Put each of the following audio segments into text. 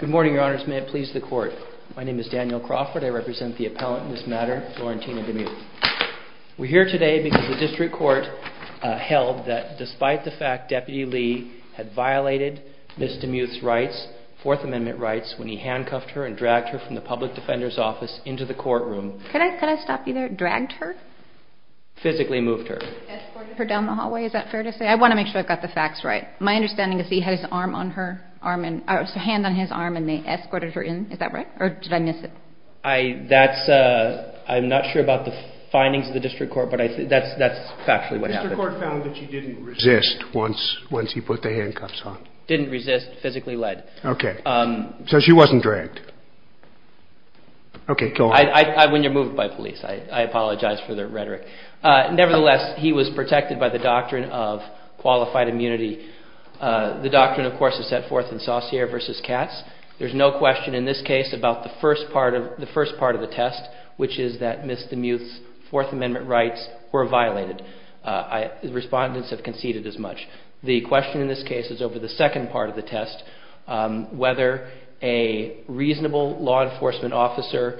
Good morning, your honors. May it please the court. My name is Daniel Crawford. I represent the appellant in this matter, Florentina Demuth. We're here today because the district court held that despite the fact Deputy Lee had violated Ms. Demuth's rights, Fourth Amendment rights, when he handcuffed her and dragged her from the public defender's office into the courtroom. Could I stop you there? Dragged her? Physically moved her. Escorted her down the hallway, is that fair to say? I want to make sure I've got the facts right. My understanding is he had his hand on his arm and they escorted her in, is that right? Or did I miss it? I'm not sure about the findings of the district court, but that's factually what happened. The district court found that she didn't resist once he put the handcuffs on. Didn't resist, physically led. Okay. So she wasn't dragged. Okay, go on. When you're moved by police, I apologize for the rhetoric. Nevertheless, he was protected by the doctrine of qualified immunity. The doctrine, of course, is set forth in Saussure versus Katz. There's no question in this case about the first part of the test, which is that Ms. Demuth's Fourth Amendment rights were violated. Respondents have conceded as much. The question in this case is over the second part of the test, whether a reasonable law enforcement officer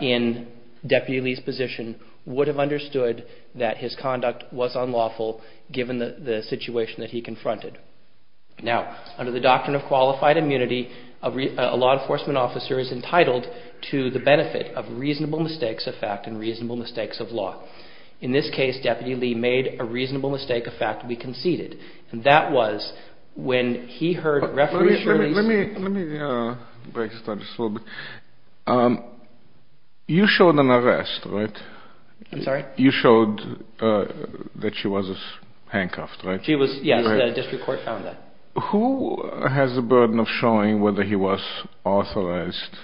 in Deputy Lee's position would have understood that his conduct was unlawful given the situation that he confronted. Now, under the doctrine of qualified immunity, a law enforcement officer is entitled to the benefit of reasonable mistakes of fact and reasonable mistakes of law. In this case, Deputy Lee made a reasonable mistake of fact and we conceded. And that was when he heard reference. Let me break this down just a little bit. You showed an arrest, right? I'm sorry? You showed that she was handcuffed, right? She was, yes, the district court found that. Who has the burden of showing whether he was authorized?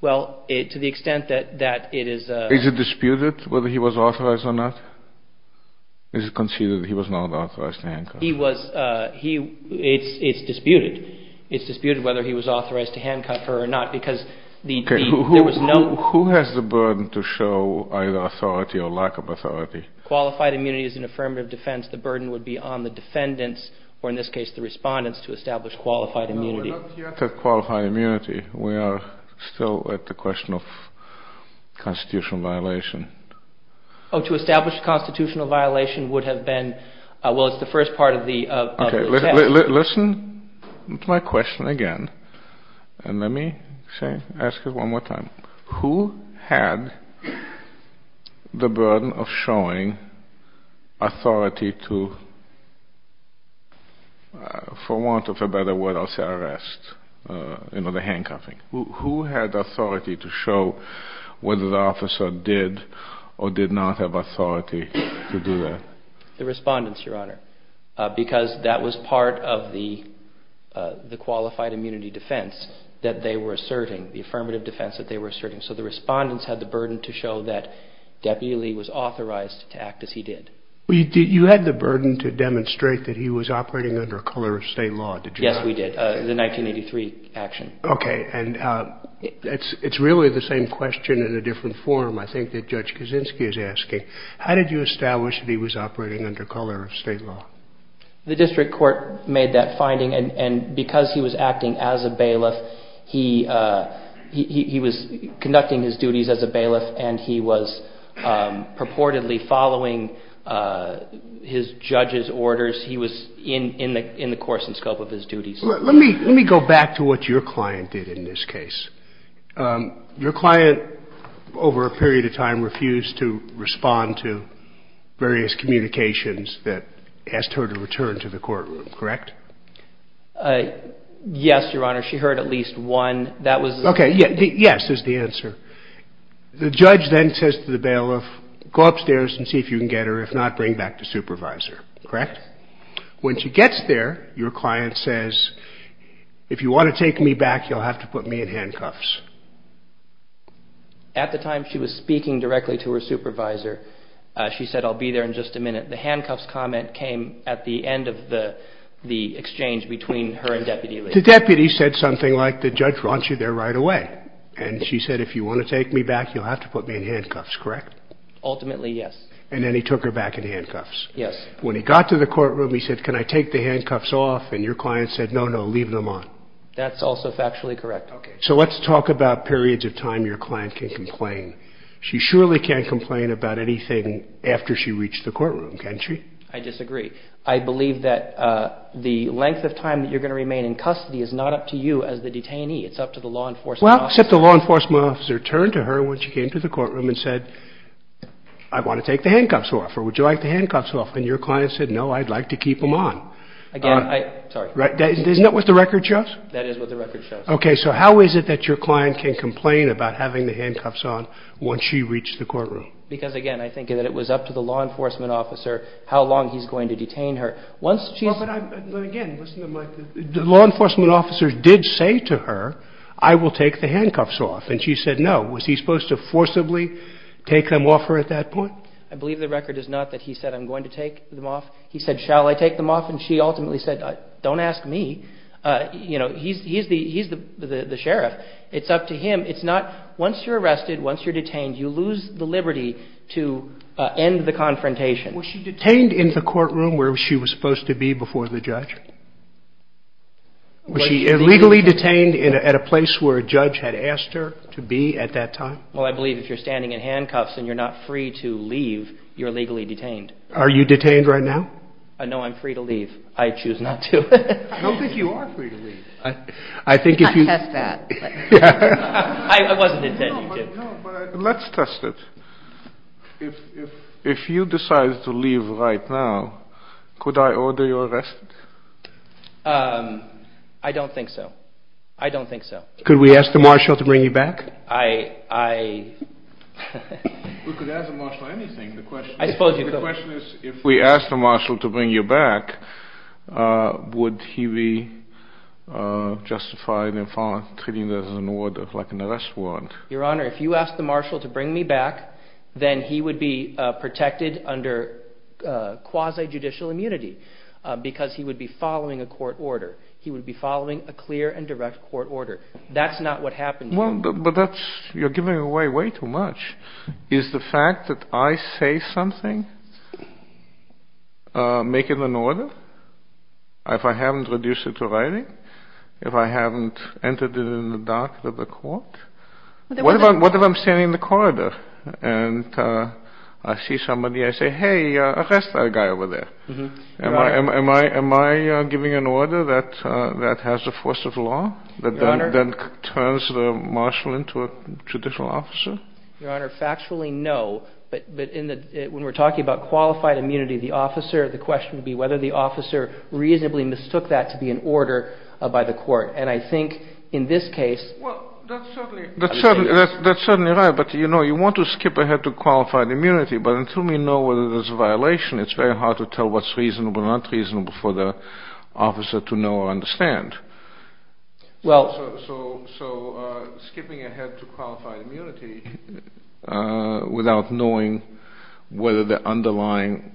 Well, to the extent that it is a... Is it disputed whether he was authorized or not? Is it conceded that he was not authorized to handcuff her? He was, he, it's disputed. It's disputed whether he was authorized to handcuff her or not because the, there was no... Okay, who has the burden to show either authority or lack of authority? Qualified immunity is an affirmative defense. The burden would be on the defendants, or in this case the Respondents, to establish qualified immunity. No, we're not yet at qualified immunity. We are still at the question of constitutional violation. Oh, to establish constitutional violation would have been, well, it's the first part of the... Okay, listen to my question again, and let me say, ask it one more time. Who had the burden of showing authority to, for want of a better word, I'll say arrest, you know, the handcuffing. Who had authority to show whether the officer did or did not have authority to do that? The Respondents, Your Honor, because that was part of the, the qualified immunity defense that they were asserting, the affirmative defense that they were asserting. So the Respondents had the burden to show that Deputy Lee was authorized to act as he did. You had the burden to demonstrate that he was operating under a color of state law, did you not? Yes, we did. The 1983 action. Okay, and it's really the same question in a different form, I think, that Judge Kaczynski is asking. How did you establish that he was operating under color of state law? The district court made that finding, and because he was acting as a bailiff, he was conducting his duties as a bailiff, and he was purportedly following his judge's orders. He was in the course and scope of his duties. Let me go back to what your client did in this case. Your client, over a period of time, refused to respond to various communications that asked her to return to the courtroom, correct? Yes, Your Honor. She heard at least one. That was... Okay, yes is the answer. The judge then says to the bailiff, go upstairs and see if you can get her, if not, bring back the supervisor, correct? When she gets there, your client says, if you want to take me back, you'll have to put me in handcuffs. At the time she was speaking directly to her supervisor, she said, I'll be there in just a minute. The handcuffs comment came at the end of the exchange between her and Deputy Lee. The deputy said something like, the judge wants you there right away, and she said, if you want to take me back, you'll have to put me in handcuffs, correct? Ultimately, yes. And then he took her back in handcuffs. Yes. When he got to the courtroom, he said, can I take the handcuffs off? And your client said, no, no, leave them on. That's also factually correct. Okay. So let's talk about periods of time your client can complain. She surely can't complain about anything after she reached the courtroom, can she? I disagree. I believe that the length of time that you're going to remain in custody is not up to you as the detainee. It's up to the law enforcement officer. Well, except I want to take the handcuffs off, or would you like the handcuffs off? And your client said, no, I'd like to keep them on. Again, I'm sorry. Right. Isn't that what the record shows? That is what the record shows. Okay. So how is it that your client can complain about having the handcuffs on once she reached the courtroom? Because again, I think that it was up to the law enforcement officer, how long he's going to detain her. Once she, again, the law enforcement officers did say to her, I will take the handcuffs off. And she said, no. Was he supposed to forcibly take them off her at that point? I believe the record is not that he said, I'm going to take them off. He said, shall I take them off? And she ultimately said, don't ask me. He's the sheriff. It's up to him. It's not once you're arrested, once you're detained, you lose the liberty to end the confrontation. Was she detained in the courtroom where she was supposed to be before the judge? Was she illegally detained at a place where a judge had asked her to be at that time? Well, I believe if you're standing in handcuffs and you're not free to leave, you're legally detained. Are you detained right now? No, I'm free to leave. I choose not to. I don't think you are free to leave. I think if you test that, I wasn't intending to. Let's test it. If you decide to leave right now, could I order your arrest? I don't think so. I don't think so. Could we ask the marshal to bring you back? We could ask the marshal anything. The question is, if we ask the marshal to bring you back, would he be justified in treating this as an order like an arrest warrant? Your honor, if you ask the marshal to bring me back, then he would be protected under quasi-judicial immunity because he would be following a court order. He would be following a clear and direct court order. That's not what happened. You're giving away way too much. Is the fact that I say something making an order? If I haven't reduced it to writing? If I haven't entered it in the dark of the court? What if I'm standing in the corridor and I see somebody, I say, hey, arrest that guy over there. Am I giving an order that has the force of law that then turns the marshal into a judicial officer? Your honor, factually, no. But when we're talking about qualified immunity, the question would be whether the officer reasonably mistook that to be an order by the court. And I think in this case, that's certainly right. But you want to skip ahead to it's very hard to tell what's reasonable, not reasonable for the officer to know or understand. So skipping ahead to qualified immunity without knowing whether the underlying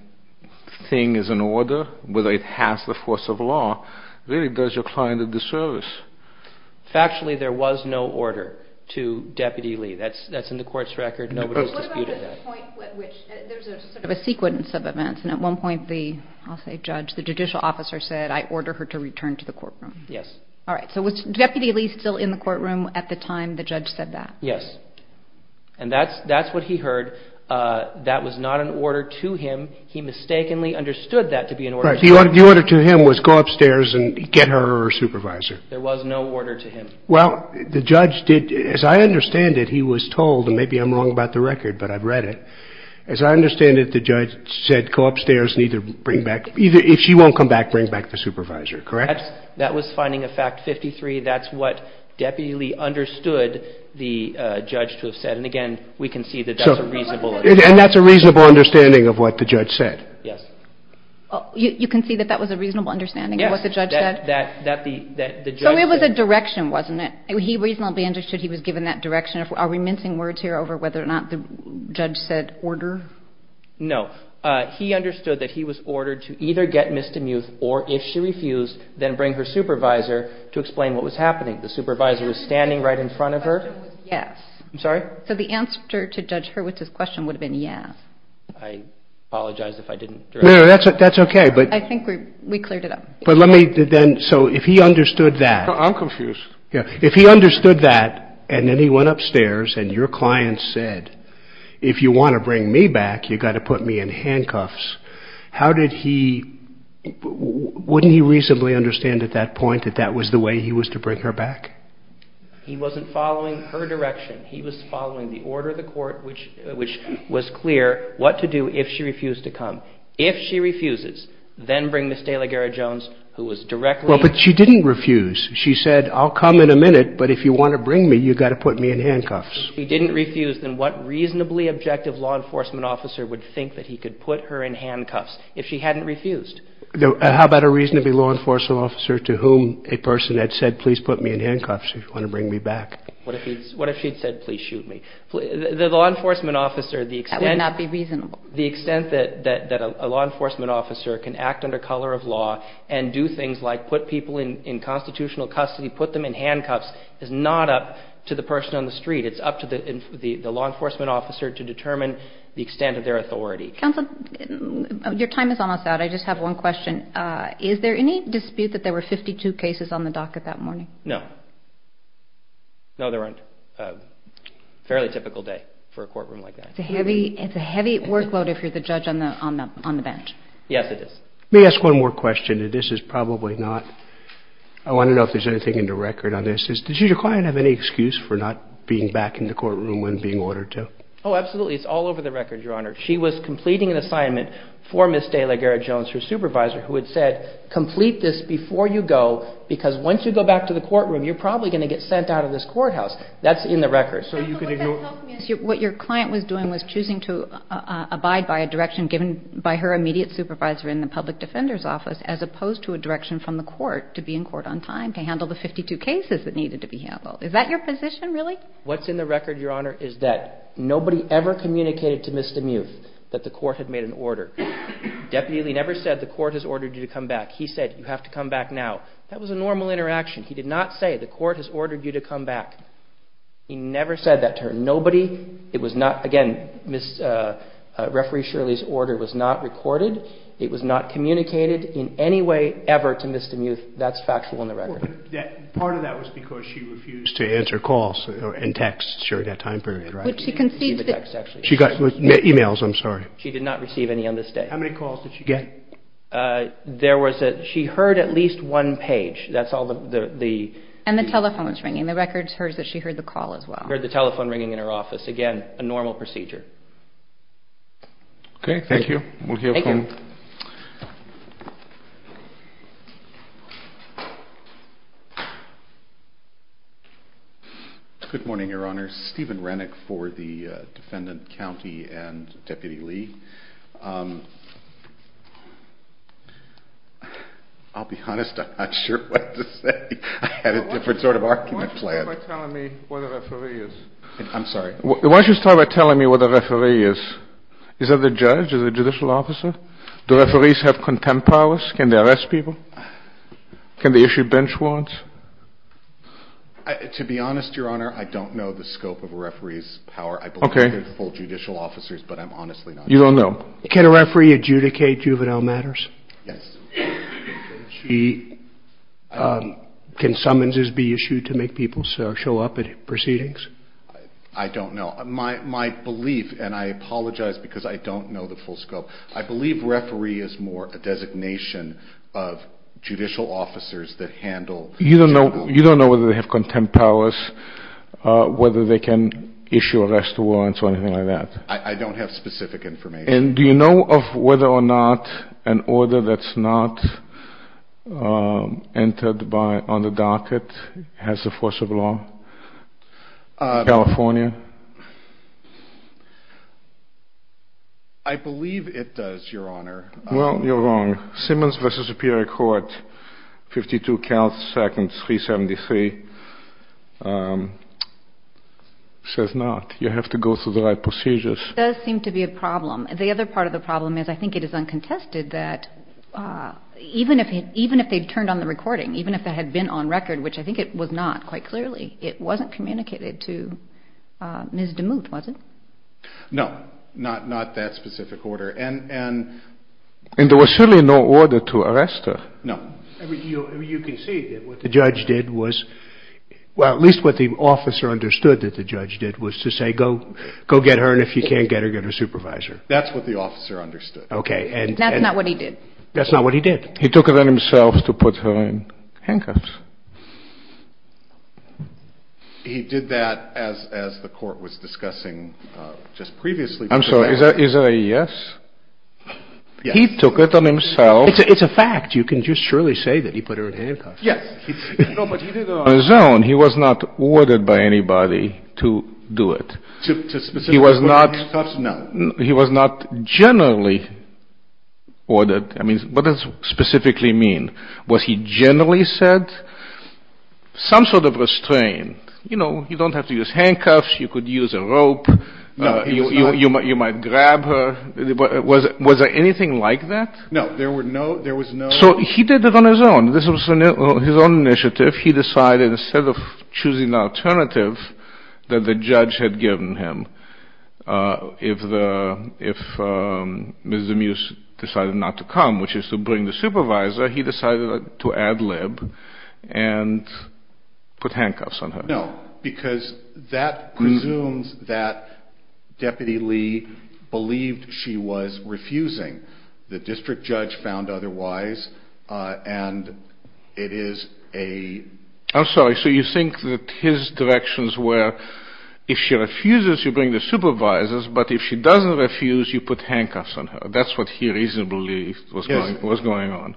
thing is an order, whether it has the force of law really does your client a disservice. Factually, there was no order to Deputy Lee. That's in the court's record. Nobody's disputed that. There's a sequence of events. And at one point, the, I'll say, judge, the judicial officer said, I order her to return to the courtroom. Yes. All right. So was Deputy Lee still in the courtroom at the time the judge said that? Yes. And that's what he heard. That was not an order to him. He mistakenly understood that to be an order. The order to him was go upstairs and get her supervisor. There was no order to him. Well, the judge did, as I understand it, he was told, and maybe I'm wrong about the record, but I've read it. As I understand it, the judge said, go upstairs and either bring back, either, if she won't come back, bring back the supervisor, correct? That was finding of fact 53. That's what Deputy Lee understood the judge to have said. And again, we can see that that's a reasonable. And that's a reasonable understanding of what the judge said. Yes. You can see that that was a reasonable understanding of what the judge said? That the judge said. So it was a direction, wasn't it? He reasonably understood he was given that direction. Are we missing words here over whether or not the judge said order? No. He understood that he was ordered to either get Ms. DeMuth or, if she refused, then bring her supervisor to explain what was happening. The supervisor was standing right in front of her? Yes. I'm sorry? So the answer to Judge Hurwitz's question would have been yes. I apologize if I didn't. No, that's okay. But I think we cleared it up. But let me then, so if he understood that. I'm confused. Yeah. If he understood that and then he went upstairs and your client said, if you want to bring me back, you got to put me in handcuffs. How did he, wouldn't he reasonably understand at that point that that was the way he was to bring her back? He wasn't following her direction. He was following the order of the court, which, which was clear what to do if she refused to come. If she refuses, then bring Ms. DeLaGarra-Jones, who was directly. Well, but she didn't refuse. She said, I'll come in a minute, but if you want to bring me, you got to put me in handcuffs. He didn't refuse. Then what reasonably objective law enforcement officer would think that he could put her in handcuffs if she hadn't refused? How about a reasonably law enforcement officer to whom a person had said, please put me in handcuffs if you want to bring me back? What if he's, what if she'd said, please shoot me? The law enforcement officer, that would not be reasonable. The extent that, that, that a law enforcement officer can act under color of law and do things like put people in constitutional custody, put them in handcuffs is not up to the person on the street. It's up to the law enforcement officer to determine the extent of their authority. Counselor, your time is almost out. I just have one question. Is there any dispute that there were 52 cases on the docket that morning? No, there weren't. Fairly typical day for a courtroom like that. It's a heavy workload if you're the judge on the bench. Yes, it is. May I ask one more question? And this is probably not, I want to know if there's anything in the record on this. Did your client have any excuse for not being back in the courtroom when being ordered to? Oh, absolutely. It's all over the record, Your Honor. She was completing an assignment for Ms. Dayla Garrett-Jones, her supervisor, who had said, complete this before you go, because once you go back to the courtroom, you're probably going to get sent out of this courthouse. That's in the record. What your client was doing was choosing to abide by a direction given by her immediate supervisor in the public defender's office, as opposed to a direction from the court to be in court on time to handle the 52 cases that needed to be handled. Is that your position, really? What's in the record, Your Honor, is that nobody ever communicated to Mr. Muth that the court had made an order. Deputy Lee never said the court has ordered you to come back. He said, you have to come back now. That was a normal interaction. He did not say, the court has ordered you to come back. He never said that to her. Nobody. It was not – again, Ms. – Referee Shirley's order was not recorded. It was not communicated in any way ever to Mr. Muth. That's factual in the record. Well, but that – part of that was because she refused to answer calls and texts during that time period, right? But she concedes that – She didn't receive a text, actually. She got – emails, I'm sorry. She did not receive any on this day. How many calls did she get? There was a – she heard at least one page. That's all the – And the telephone was ringing. The records heard that she heard the call as well. Heard the telephone ringing in her office. Again, a normal procedure. Okay. Thank you. We'll hear from – Thank you. Good morning, Your Honor. Stephen Rennick for the defendant, county, and Deputy Lee. I'll be honest. I'm not sure what to say. I had a different sort of argument planned. Why don't you start by telling me where the referee is? I'm sorry? Why don't you start by telling me where the referee is? Is that the judge? Is it a judicial officer? Do referees have contempt powers? Can they arrest people? Can they issue bench warrants? To be honest, Your Honor, I don't know the scope of a referee's power. I believe they're full judicial officers, but I'm honestly not sure. You don't know. Can a referee adjudicate juvenile matters? Yes. Can summonses be issued to make people show up at proceedings? I don't know. My belief – and I apologize because I don't know the full scope – I believe referee is more a designation of judicial officers that handle – You don't know whether they have contempt powers, whether they can issue arrest warrants or anything like that? I don't have specific information. Do you know of whether or not an order that's not entered on the docket has the force of law? California? I believe it does, Your Honor. Well, you're wrong. Simmons v. Superior Court, 52 counts, seconds, 373, says not. You have to go through the right procedures. It does seem to be a problem. The other part of the problem is I think it is uncontested that even if they'd turned on the recording, even if it had been on record, which I think it was not quite clearly, it wasn't communicated to Ms. DeMuth, was it? No. Not that specific order. And there was certainly no order to arrest her. No. You can see that what the judge did was – well, at least what the officer understood that the judge did was to say, go get her, and if you can't get her, get her supervisor. That's what the officer understood. Okay. And that's not what he did. That's not what he did. He took it on himself to put her in handcuffs. He did that as the court was discussing just previously. I'm sorry. Is there a yes? Yes. He took it on himself. It's a fact. You can just surely say that he put her in handcuffs. Yes. No, but he did it on his own. He was not ordered by anybody to do it. To specifically put her in handcuffs? No. He was not generally ordered. I mean, what does specifically mean? Was he generally said some sort of restraint? You know, you don't have to use handcuffs. You could use a rope. No, he's not. You might grab her. Was there anything like that? No. There were no – there was no – So he did it on his own. This was his own initiative. He decided instead of choosing an alternative that the judge had given him, if Ms. Demuse decided not to come, which is to bring the supervisor, he decided to ad lib and put handcuffs on her. No, because that presumes that Deputy Lee believed she was refusing. The district judge found otherwise, and it is a – I'm sorry. So you think that his directions were, if she refuses, you bring the supervisors, but if she doesn't refuse, you put handcuffs on her. That's what he reasonably was going on.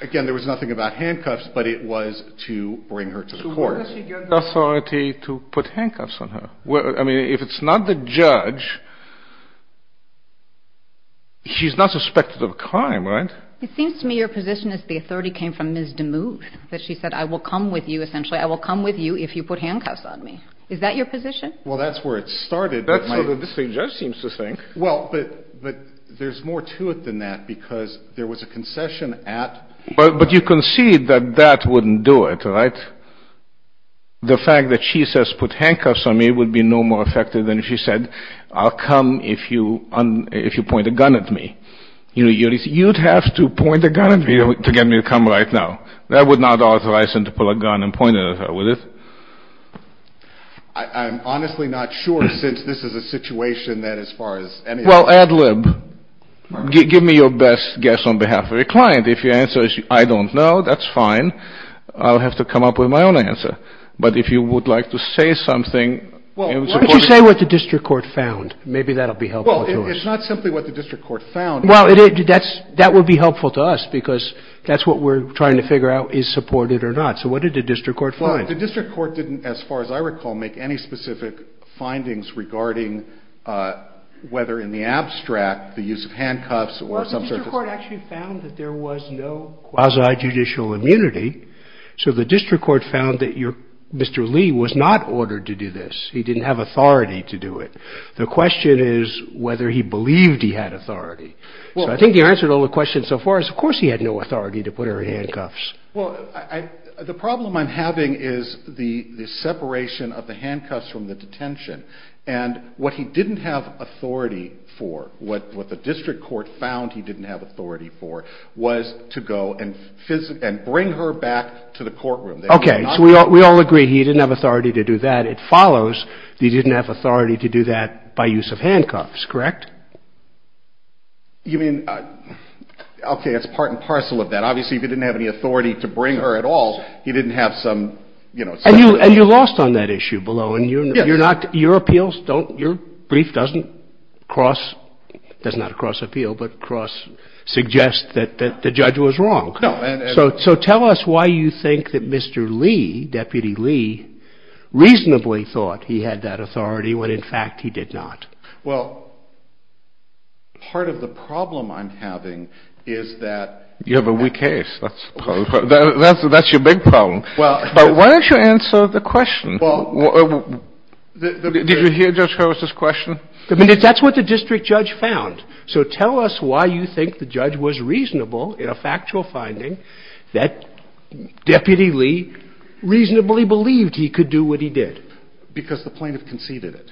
Again, there was nothing about handcuffs, but it was to bring her to the court. So where does he get the authority to put handcuffs on her? I mean, if it's not the judge, she's not suspected of a crime, right? It seems to me your position is the authority came from Ms. Demuse, that she said, I will come with you, essentially. I will come with you if you put handcuffs on me. Is that your position? Well, that's where it started. That's what the district judge seems to think. Well, but there's more to it than that, because there was a concession at – But you concede that that wouldn't do it, right? The fact that she says put handcuffs on me would be no more effective than if she said, I'll come if you point a gun at me. You'd have to point a gun at me to get me to come right now. That would not authorize him to pull a gun and point it at her, would it? I'm honestly not sure, since this is a situation that, as far as anything – Well, ad lib. Give me your best guess on behalf of your client. If your answer is, I don't know, that's fine. I'll have to come up with my own answer. But if you would like to say something – Say what the district court found. Maybe that'll be helpful to us. It's not simply what the district court found. Well, that would be helpful to us, because that's what we're trying to figure out, is supported or not. So what did the district court find? The district court didn't, as far as I recall, make any specific findings regarding whether in the abstract, the use of handcuffs or some sort of – Well, the district court actually found that there was no quasi-judicial immunity. So the district court found that Mr. Lee was not ordered to do this. He didn't have authority to do it. The question is whether he believed he had authority. So I think the answer to all the questions so far is, of course, he had no authority to put her in handcuffs. Well, the problem I'm having is the separation of the handcuffs from the detention. And what he didn't have authority for, what the district court found he didn't have authority for, was to go and bring her back to the courtroom. Okay. So we all agree. He didn't have authority to do that. It follows that he didn't have authority to do that by use of handcuffs, correct? You mean – okay, it's part and parcel of that. Obviously, he didn't have any authority to bring her at all. He didn't have some, you know – And you lost on that issue below. And you're not – your appeals don't – your brief doesn't cross – does not cross appeal, but cross suggests that the judge was wrong. No, and – He had that authority when, in fact, he did not. Well, part of the problem I'm having is that – You have a weak case. That's your big problem. But why don't you answer the question? Did you hear Judge Harris's question? That's what the district judge found. So tell us why you think the judge was reasonable in a factual finding that Deputy Lee reasonably believed he could do what he did. Because the plaintiff conceded it.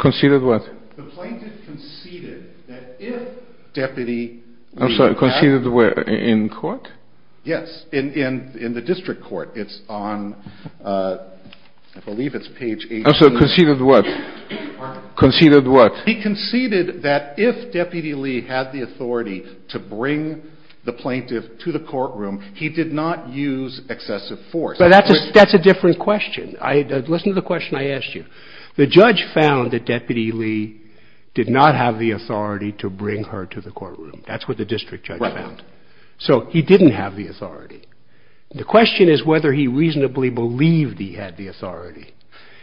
Conceded what? The plaintiff conceded that if Deputy Lee – I'm sorry. Conceded where? In court? Yes. In the district court. It's on – I believe it's page – I'm sorry. Conceded what? Conceded what? He conceded that if Deputy Lee had the authority to bring the plaintiff to the courtroom, he did not use excessive force. That's a different question. Listen to the question I asked you. The judge found that Deputy Lee did not have the authority to bring her to the courtroom. That's what the district judge found. So he didn't have the authority. The question is whether he reasonably believed he had the authority.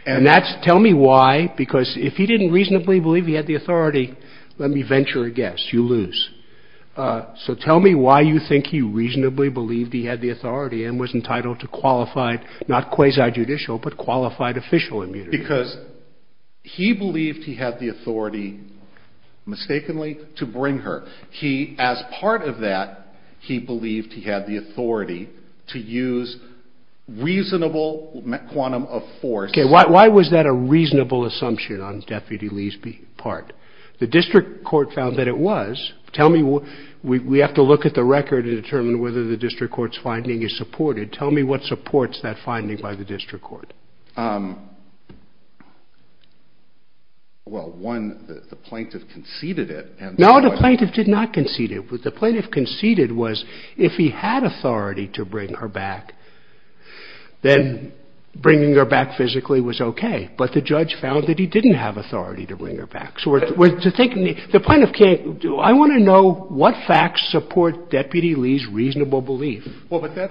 And that's – tell me why, because if he didn't reasonably believe he had the authority, let me venture a guess. You lose. So tell me why you think he reasonably believed he had the authority and was entitled to qualified – not quasi-judicial, but qualified official immunity. Because he believed he had the authority, mistakenly, to bring her. He, as part of that, he believed he had the authority to use reasonable quantum of force. Okay, why was that a reasonable assumption on Deputy Lee's part? The district court found that it was. Tell me – we have to look at the record to determine whether the district court's finding is supported. Tell me what supports that finding by the district court. Well, one, the plaintiff conceded it. No, the plaintiff did not concede it. The plaintiff conceded was if he had authority to bring her back, then bringing her back physically was okay. But the judge found that he didn't have authority to bring her back. So to think – the plaintiff can't – I want to know what facts support Deputy Lee's Well, but that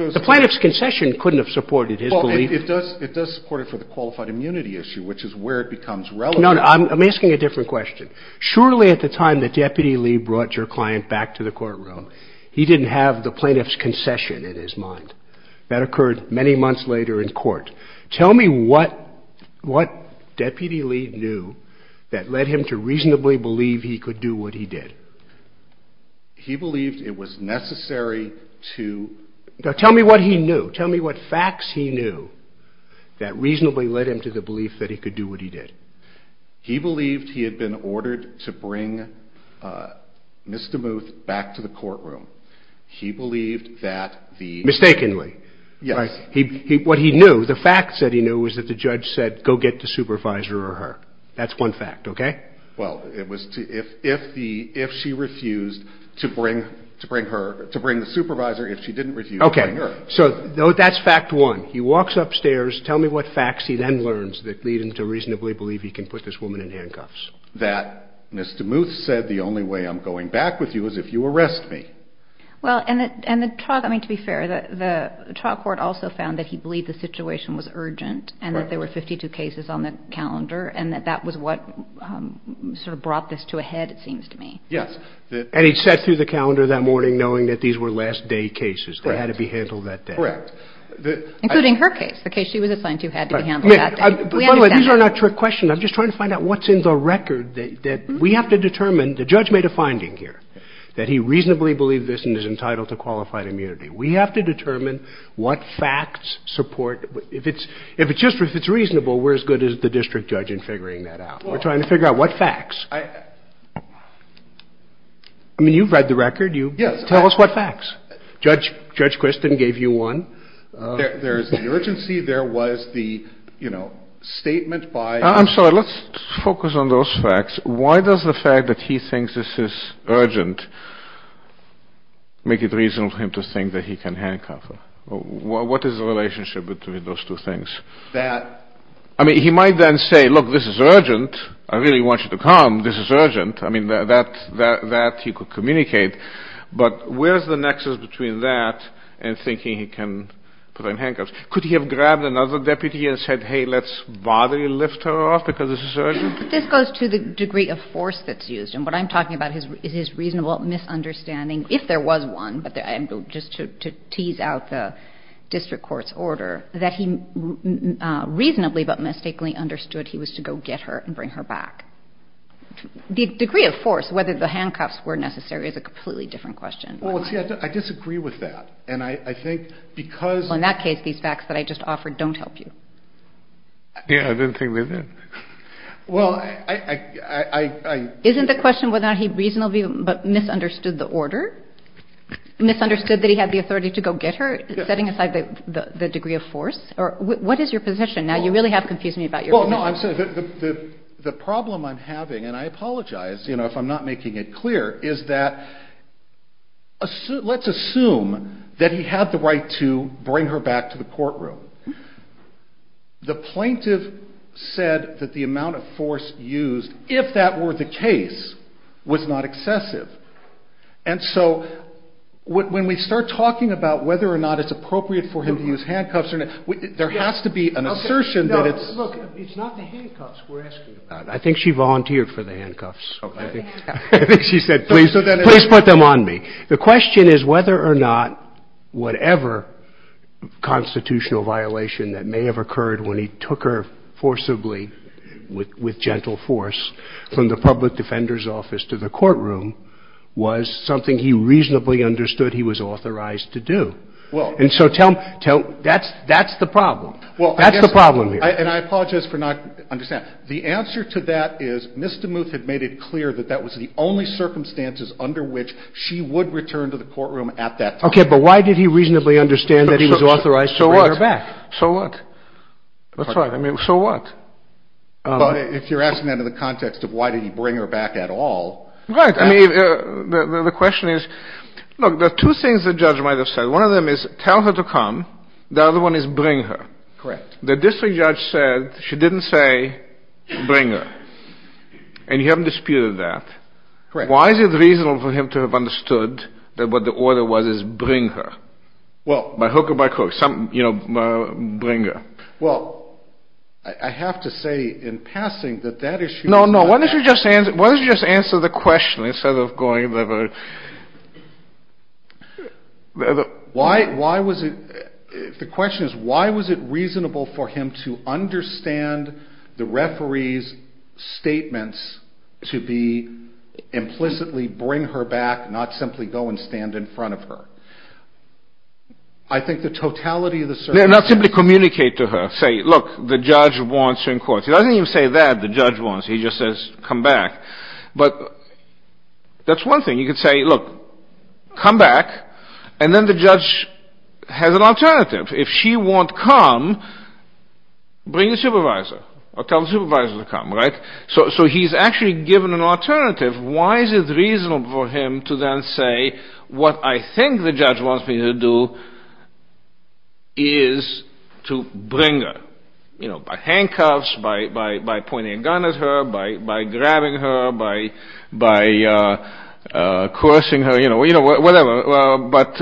goes – The plaintiff's concession couldn't have supported his belief. It does support it for the qualified immunity issue, which is where it becomes relevant. No, no, I'm asking a different question. Surely at the time that Deputy Lee brought your client back to the courtroom, he didn't have the plaintiff's concession in his mind. That occurred many months later in court. Tell me what Deputy Lee knew that led him to reasonably believe he could do what he did. He believed it was necessary to – Now, tell me what he knew. Tell me what facts he knew that reasonably led him to the belief that he could do what he did. He believed he had been ordered to bring Ms. DeMuth back to the courtroom. He believed that the – Mistakenly. Yes. What he knew, the facts that he knew was that the judge said, go get the supervisor or her. That's one fact, okay? Well, it was if she refused to bring the supervisor, if she didn't refuse to bring her. Okay, so that's fact one. He walks upstairs. Tell me what facts he then learns that lead him to reasonably believe he can put this woman in handcuffs. That Ms. DeMuth said, the only way I'm going back with you is if you arrest me. Well, and to be fair, the trial court also found that he believed the situation was urgent and that there were 52 cases on the calendar and that that was what sort of brought this to a head, it seems to me. Yes, and he sat through the calendar that morning knowing that these were last day cases that had to be handled that day. Correct. Including her case, the case she was assigned to had to be handled that day. By the way, these are not trick questions. I'm just trying to find out what's in the record that we have to determine. The judge made a finding here that he reasonably believed this and is entitled to qualified immunity. We have to determine what facts support – if it's reasonable, we're as good as the district judge in figuring that out. We're trying to figure out what facts. I mean, you've read the record. You tell us what facts. Judge Quiston gave you one. There's the urgency. There was the statement by – I'm sorry, let's focus on those facts. Why does the fact that he thinks this is urgent make it reasonable for him to think that he can handcuff her? What is the relationship between those two things? I mean, he might then say, look, this is urgent. I really want you to come. This is urgent. I mean, that he could communicate. But where's the nexus between that and thinking he can put her in handcuffs? Could he have grabbed another deputy and said, hey, let's bodily lift her off because this is urgent? This goes to the degree of force that's used. And what I'm talking about is his reasonable misunderstanding, if there was one, just to tease out the district court's order, that he reasonably but mistakenly understood he was to go get her and bring her back. The degree of force, whether the handcuffs were necessary, is a completely different question. Well, see, I disagree with that. And I think because – Well, in that case, these facts that I just offered don't help you. Yeah, I didn't think they did. Well, I – Isn't the question whether or not he reasonably but misunderstood the order? Misunderstood that he had the authority to go get her, setting aside the degree of force? Or what is your position? Now, you really have confused me about your – Well, no, I'm – the problem I'm having, and I apologize if I'm not making it clear, is that let's assume that he had the right to bring her back to the courtroom. The plaintiff said that the amount of force used, if that were the case, was not excessive. And so when we start talking about whether or not it's appropriate for him to use handcuffs, there has to be an assertion that it's – No, look, it's not the handcuffs we're asking about. I think she volunteered for the handcuffs. Okay. I think she said, please put them on me. The question is whether or not whatever constitutional violation that may have occurred when he took her forcibly with gentle force from the public defender's office to the courtroom was something he reasonably understood he was authorized to do. Well – And so tell – that's the problem. Well, I guess – That's the problem here. And I apologize for not understanding. The answer to that is Ms. DeMuth had made it clear that that was the only circumstances under which she would return to the courtroom at that time. Okay. But why did he reasonably understand that he was authorized to bring her back? So what? That's right. I mean, so what? If you're asking that in the context of why did he bring her back at all – Right. I mean, the question is – look, there are two things the judge might have said. One of them is tell her to come. The other one is bring her. Correct. The district judge said she didn't say bring her. And you haven't disputed that. Correct. Why is it reasonable for him to have understood that what the order was is bring her? Well – By hook or by crook. Some, you know, bring her. Well, I have to say in passing that that issue – No, no. Why don't you just answer – why don't you just answer the question instead of going – Why – why was it – the question is why was it reasonable for him to understand the bring her back, not simply go and stand in front of her? I think the totality of the – No, not simply communicate to her. Say, look, the judge wants her in court. He doesn't even say that, the judge wants. He just says come back. But that's one thing. You could say, look, come back, and then the judge has an alternative. If she won't come, bring the supervisor. Or tell the supervisor to come, right? So he's actually given an alternative. Why is it reasonable for him to then say what I think the judge wants me to do is to bring her? You know, by handcuffs, by pointing a gun at her, by grabbing her, by coercing her, you know, whatever. But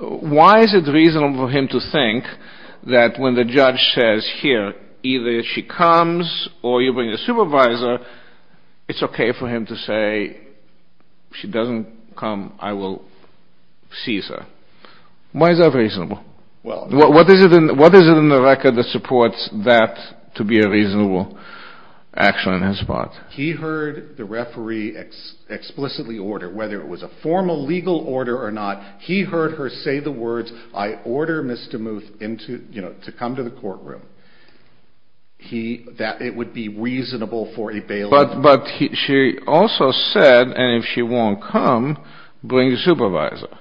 why is it reasonable for him to think that when the judge says, here, either she comes or you bring the supervisor, it's okay for him to say, if she doesn't come, I will seize her? Why is that reasonable? What is it in the record that supports that to be a reasonable action on his part? He heard the referee explicitly order, whether it was a formal legal order or not, he heard her say the words, I order Mr. Mooth into, you know, to come to the courtroom. He, that it would be reasonable for a bailiff. But she also said, and if she won't come, bring the supervisor.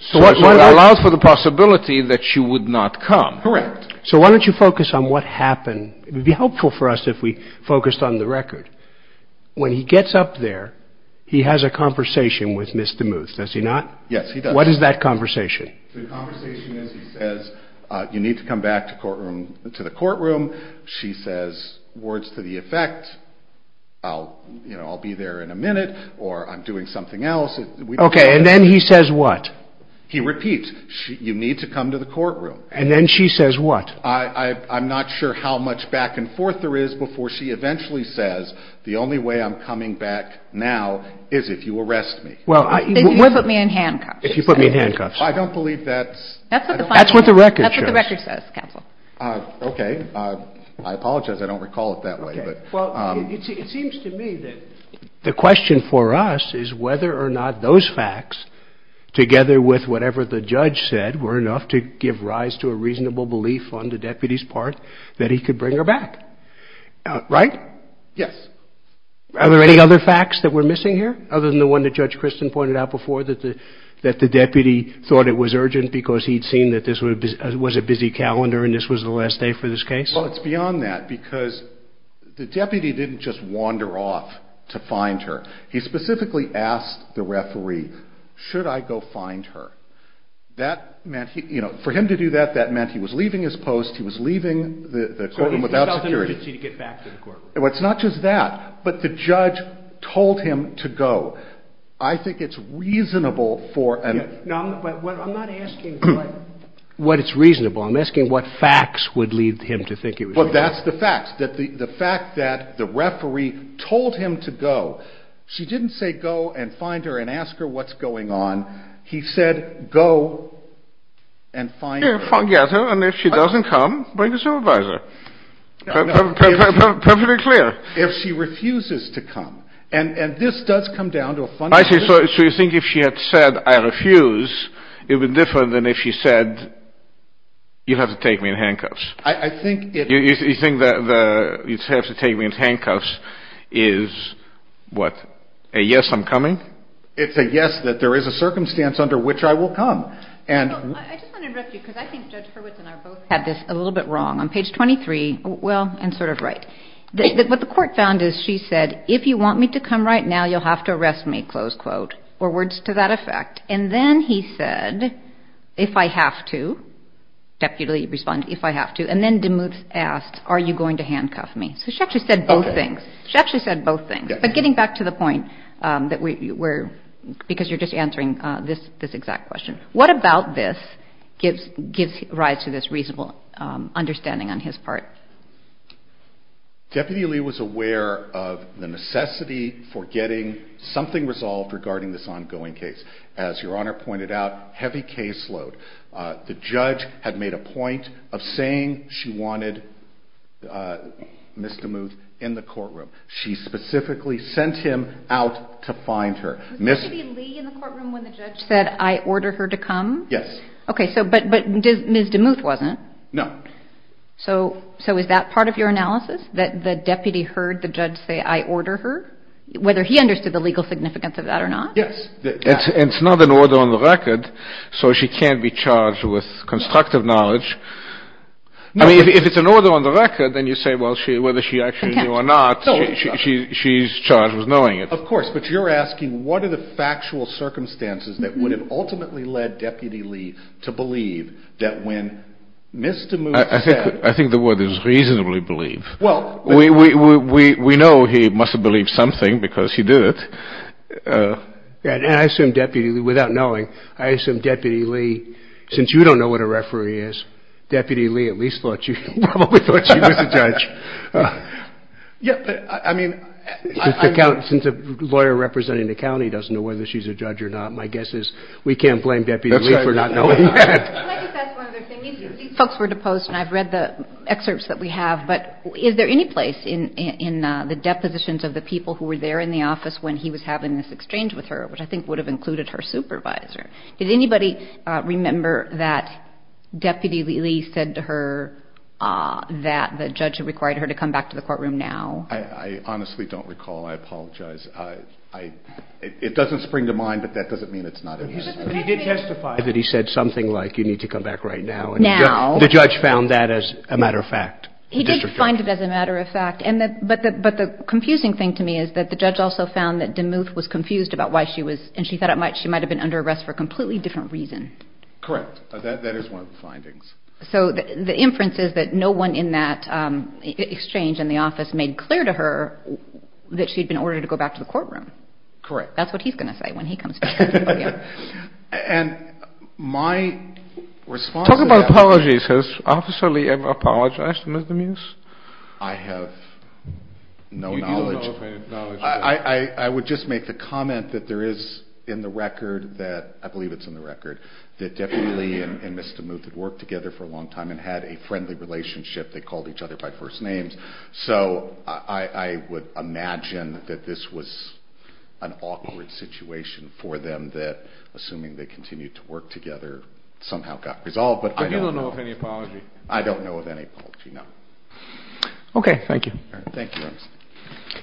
So it allows for the possibility that she would not come. Correct. So why don't you focus on what happened? It would be helpful for us if we focused on the record. When he gets up there, he has a conversation with Mr. Mooth, does he not? Yes, he does. What is that conversation? The conversation is, he says, you need to come back to courtroom, to the courtroom. She says, words to the effect, I'll, you know, I'll be there in a minute or I'm doing something else. Okay, and then he says what? He repeats, you need to come to the courtroom. And then she says what? I'm not sure how much back and forth there is before she eventually says, the only way I'm coming back now is if you arrest me. Well, if you put me in handcuffs. If you put me in handcuffs. I don't believe that's... That's what the record shows. That's what the record says, counsel. Okay, I apologize. I don't recall it that way, but... Well, it seems to me that the question for us is whether or not those facts, together with whatever the judge said, were enough to give rise to a reasonable belief on the deputy's part that he could bring her back. Right? Yes. Are there any other facts that we're missing here, other than the one that Judge Christin pointed out before, that the deputy thought it was urgent, because he'd seen that this was a busy calendar, and this was the last day for this case? Well, it's beyond that, because the deputy didn't just wander off to find her. He specifically asked the referee, should I go find her? That meant, you know, for him to do that, that meant he was leaving his post. He was leaving the courtroom without security. He felt an urgency to get back to the courtroom. It's not just that, but the judge told him to go. I think it's reasonable for him... No, I'm not asking what it's reasonable. I'm asking what facts would lead him to think it was... Well, that's the facts, that the fact that the referee told him to go. She didn't say go and find her and ask her what's going on. He said, go and find her. Yeah, forget her, and if she doesn't come, bring the supervisor. Perfectly clear. If she refuses to come. And this does come down to a fundamental... I see, so you think if she had said, I refuse, it would be different than if she said, you have to take me in handcuffs. I think it... You think that you'd have to take me in handcuffs is what, a yes, I'm coming? It's a yes that there is a circumstance under which I will come, and... Well, I just want to interrupt you, because I think Judge Hurwitz and I both had this a little bit wrong. On page 23, well, and sort of right, what the court found is she said, if you want me to come right now, you'll have to arrest me, close quote, or words to that effect. And then he said, if I have to, definitely respond, if I have to. And then DeMuth asked, are you going to handcuff me? So she actually said both things. She actually said both things. But getting back to the point that we're... Because you're just answering this exact question. What about this gives rise to this reasonable understanding on his part? Deputy Lee was aware of the necessity for getting something resolved regarding this ongoing case. As Your Honor pointed out, heavy caseload. The judge had made a point of saying she wanted Ms. DeMuth in the courtroom. She specifically sent him out to find her. Was there supposed to be Lee in the courtroom when the judge said, I order her to come? Yes. OK, but Ms. DeMuth wasn't. No. So is that part of your analysis, that the deputy heard the judge say, I order her, whether he understood the legal significance of that or not? Yes. It's not an order on the record. So she can't be charged with constructive knowledge. I mean, if it's an order on the record, then you say, well, whether she actually knew or not, she's charged with knowing it. Of course. But you're asking, what are the factual circumstances that would have ultimately led Deputy Lee to believe that when Ms. DeMuth said. I think the word is reasonably believe. Well, we know he must have believed something because he did it. And I assume Deputy Lee, without knowing, I assume Deputy Lee, since you don't know what a referee is, Deputy Lee at least thought you probably thought she was a judge. Yeah, but I mean. Since a lawyer representing the county doesn't know whether she's a judge or not, my guess is we can't blame Deputy Lee for not knowing. These folks were deposed and I've read the excerpts that we have. But is there any place in the depositions of the people who were there in the office when he was having this exchange with her, which I think would have included her supervisor? Did anybody remember that Deputy Lee said to her that the judge had required her to come back to the courtroom now? I honestly don't recall. I apologize. I it doesn't spring to mind, but that doesn't mean it's not. He did testify that he said something like you need to come back right now. And now the judge found that as a matter of fact, he didn't find it as a matter of fact. And but but the confusing thing to me is that the judge also found that DeMuth was confused about why she was and she thought it might she might have been under arrest for a completely different reason. Correct, that is one of the findings. So the inference is that no one in that exchange in the office made clear to her that she'd in order to go back to the courtroom. Correct. That's what he's going to say when he comes. And my response. Talk about apologies. Has Officer Lee ever apologized to Ms. DeMuth? I have no knowledge. I would just make the comment that there is in the record that I believe it's in the record that Deputy Lee and Ms. DeMuth had worked together for a long time and had a friendly relationship. They called each other by first names. So I would imagine that this was an awkward situation for them that, assuming they continued to work together, somehow got resolved. But I don't know of any apology. I don't know of any apology, no. OK, thank you. Thank you.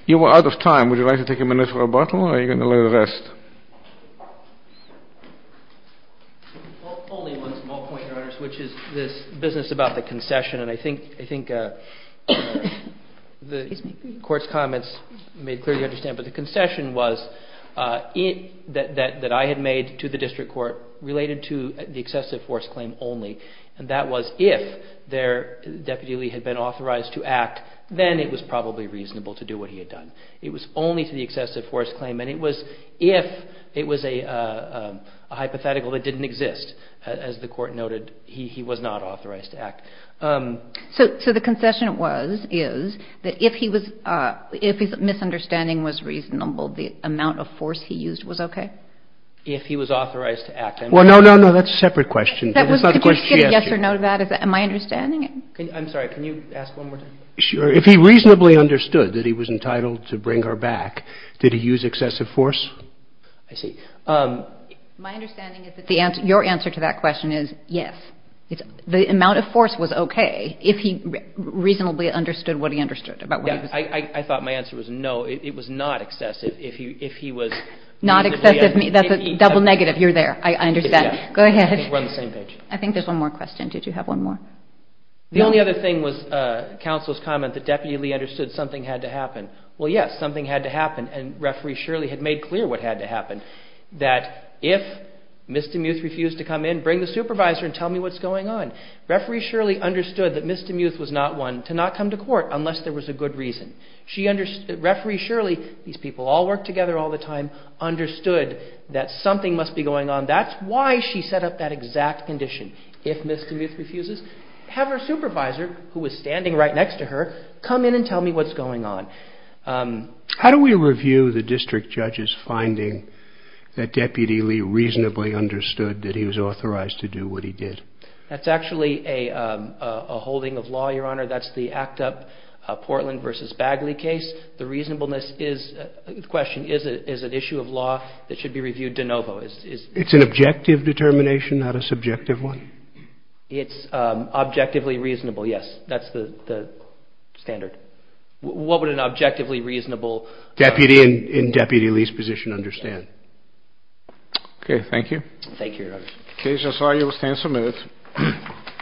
You are out of time. Would you like to take a minute for a bottle or are you going to let it rest? Only one small point, Your Honor, which is this business about the concession. And I think the Court's comments made clear you understand. But the concession was that I had made to the District Court related to the excessive force claim only. And that was if Deputy Lee had been authorized to act, then it was probably reasonable to do what he had done. It was only to the excessive force claim. And it was if it was a hypothetical that didn't exist. As the Court noted, he was not authorized to act. So the concession is that if his misunderstanding was reasonable, the amount of force he used was OK? If he was authorized to act. Well, no, no, no. That's a separate question. That was not the question she asked you. Can I get a yes or no to that? Am I understanding it? I'm sorry. Can you ask one more time? Sure. If he reasonably understood that he was entitled to bring her back, did he use excessive force? I see. My understanding is that your answer to that question is yes. The amount of force was OK if he reasonably understood what he understood about what he was saying. I thought my answer was no. It was not excessive. If he was reasonably… Not excessive. That's a double negative. You're there. I understand. Go ahead. We're on the same page. I think there's one more question. Did you have one more? The only other thing was counsel's comment that Deputy Lee understood something had to happen. Well, yes, something had to happen. And Referee Shirley had made clear what had to happen, that if Ms. DeMuth refused to come in, bring the supervisor and tell me what's going on. Referee Shirley understood that Ms. DeMuth was not one to not come to court unless there was a good reason. Referee Shirley, these people all work together all the time, understood that something must be going on. That's why she set up that exact condition. If Ms. DeMuth refuses, have her supervisor, who was standing right next to her, come in and tell me what's going on. How do we review the district judge's finding that Deputy Lee reasonably understood that he was authorized to do what he did? That's actually a holding of law, Your Honor. That's the ACT UP Portland v. Bagley case. The reasonableness question is an issue of law that should be reviewed de novo. It's an objective determination, not a subjective one? It's objectively reasonable, yes. That's the standard. What would an objectively reasonable... Deputy in Deputy Lee's position understand? Okay. Thank you. Thank you, Your Honor.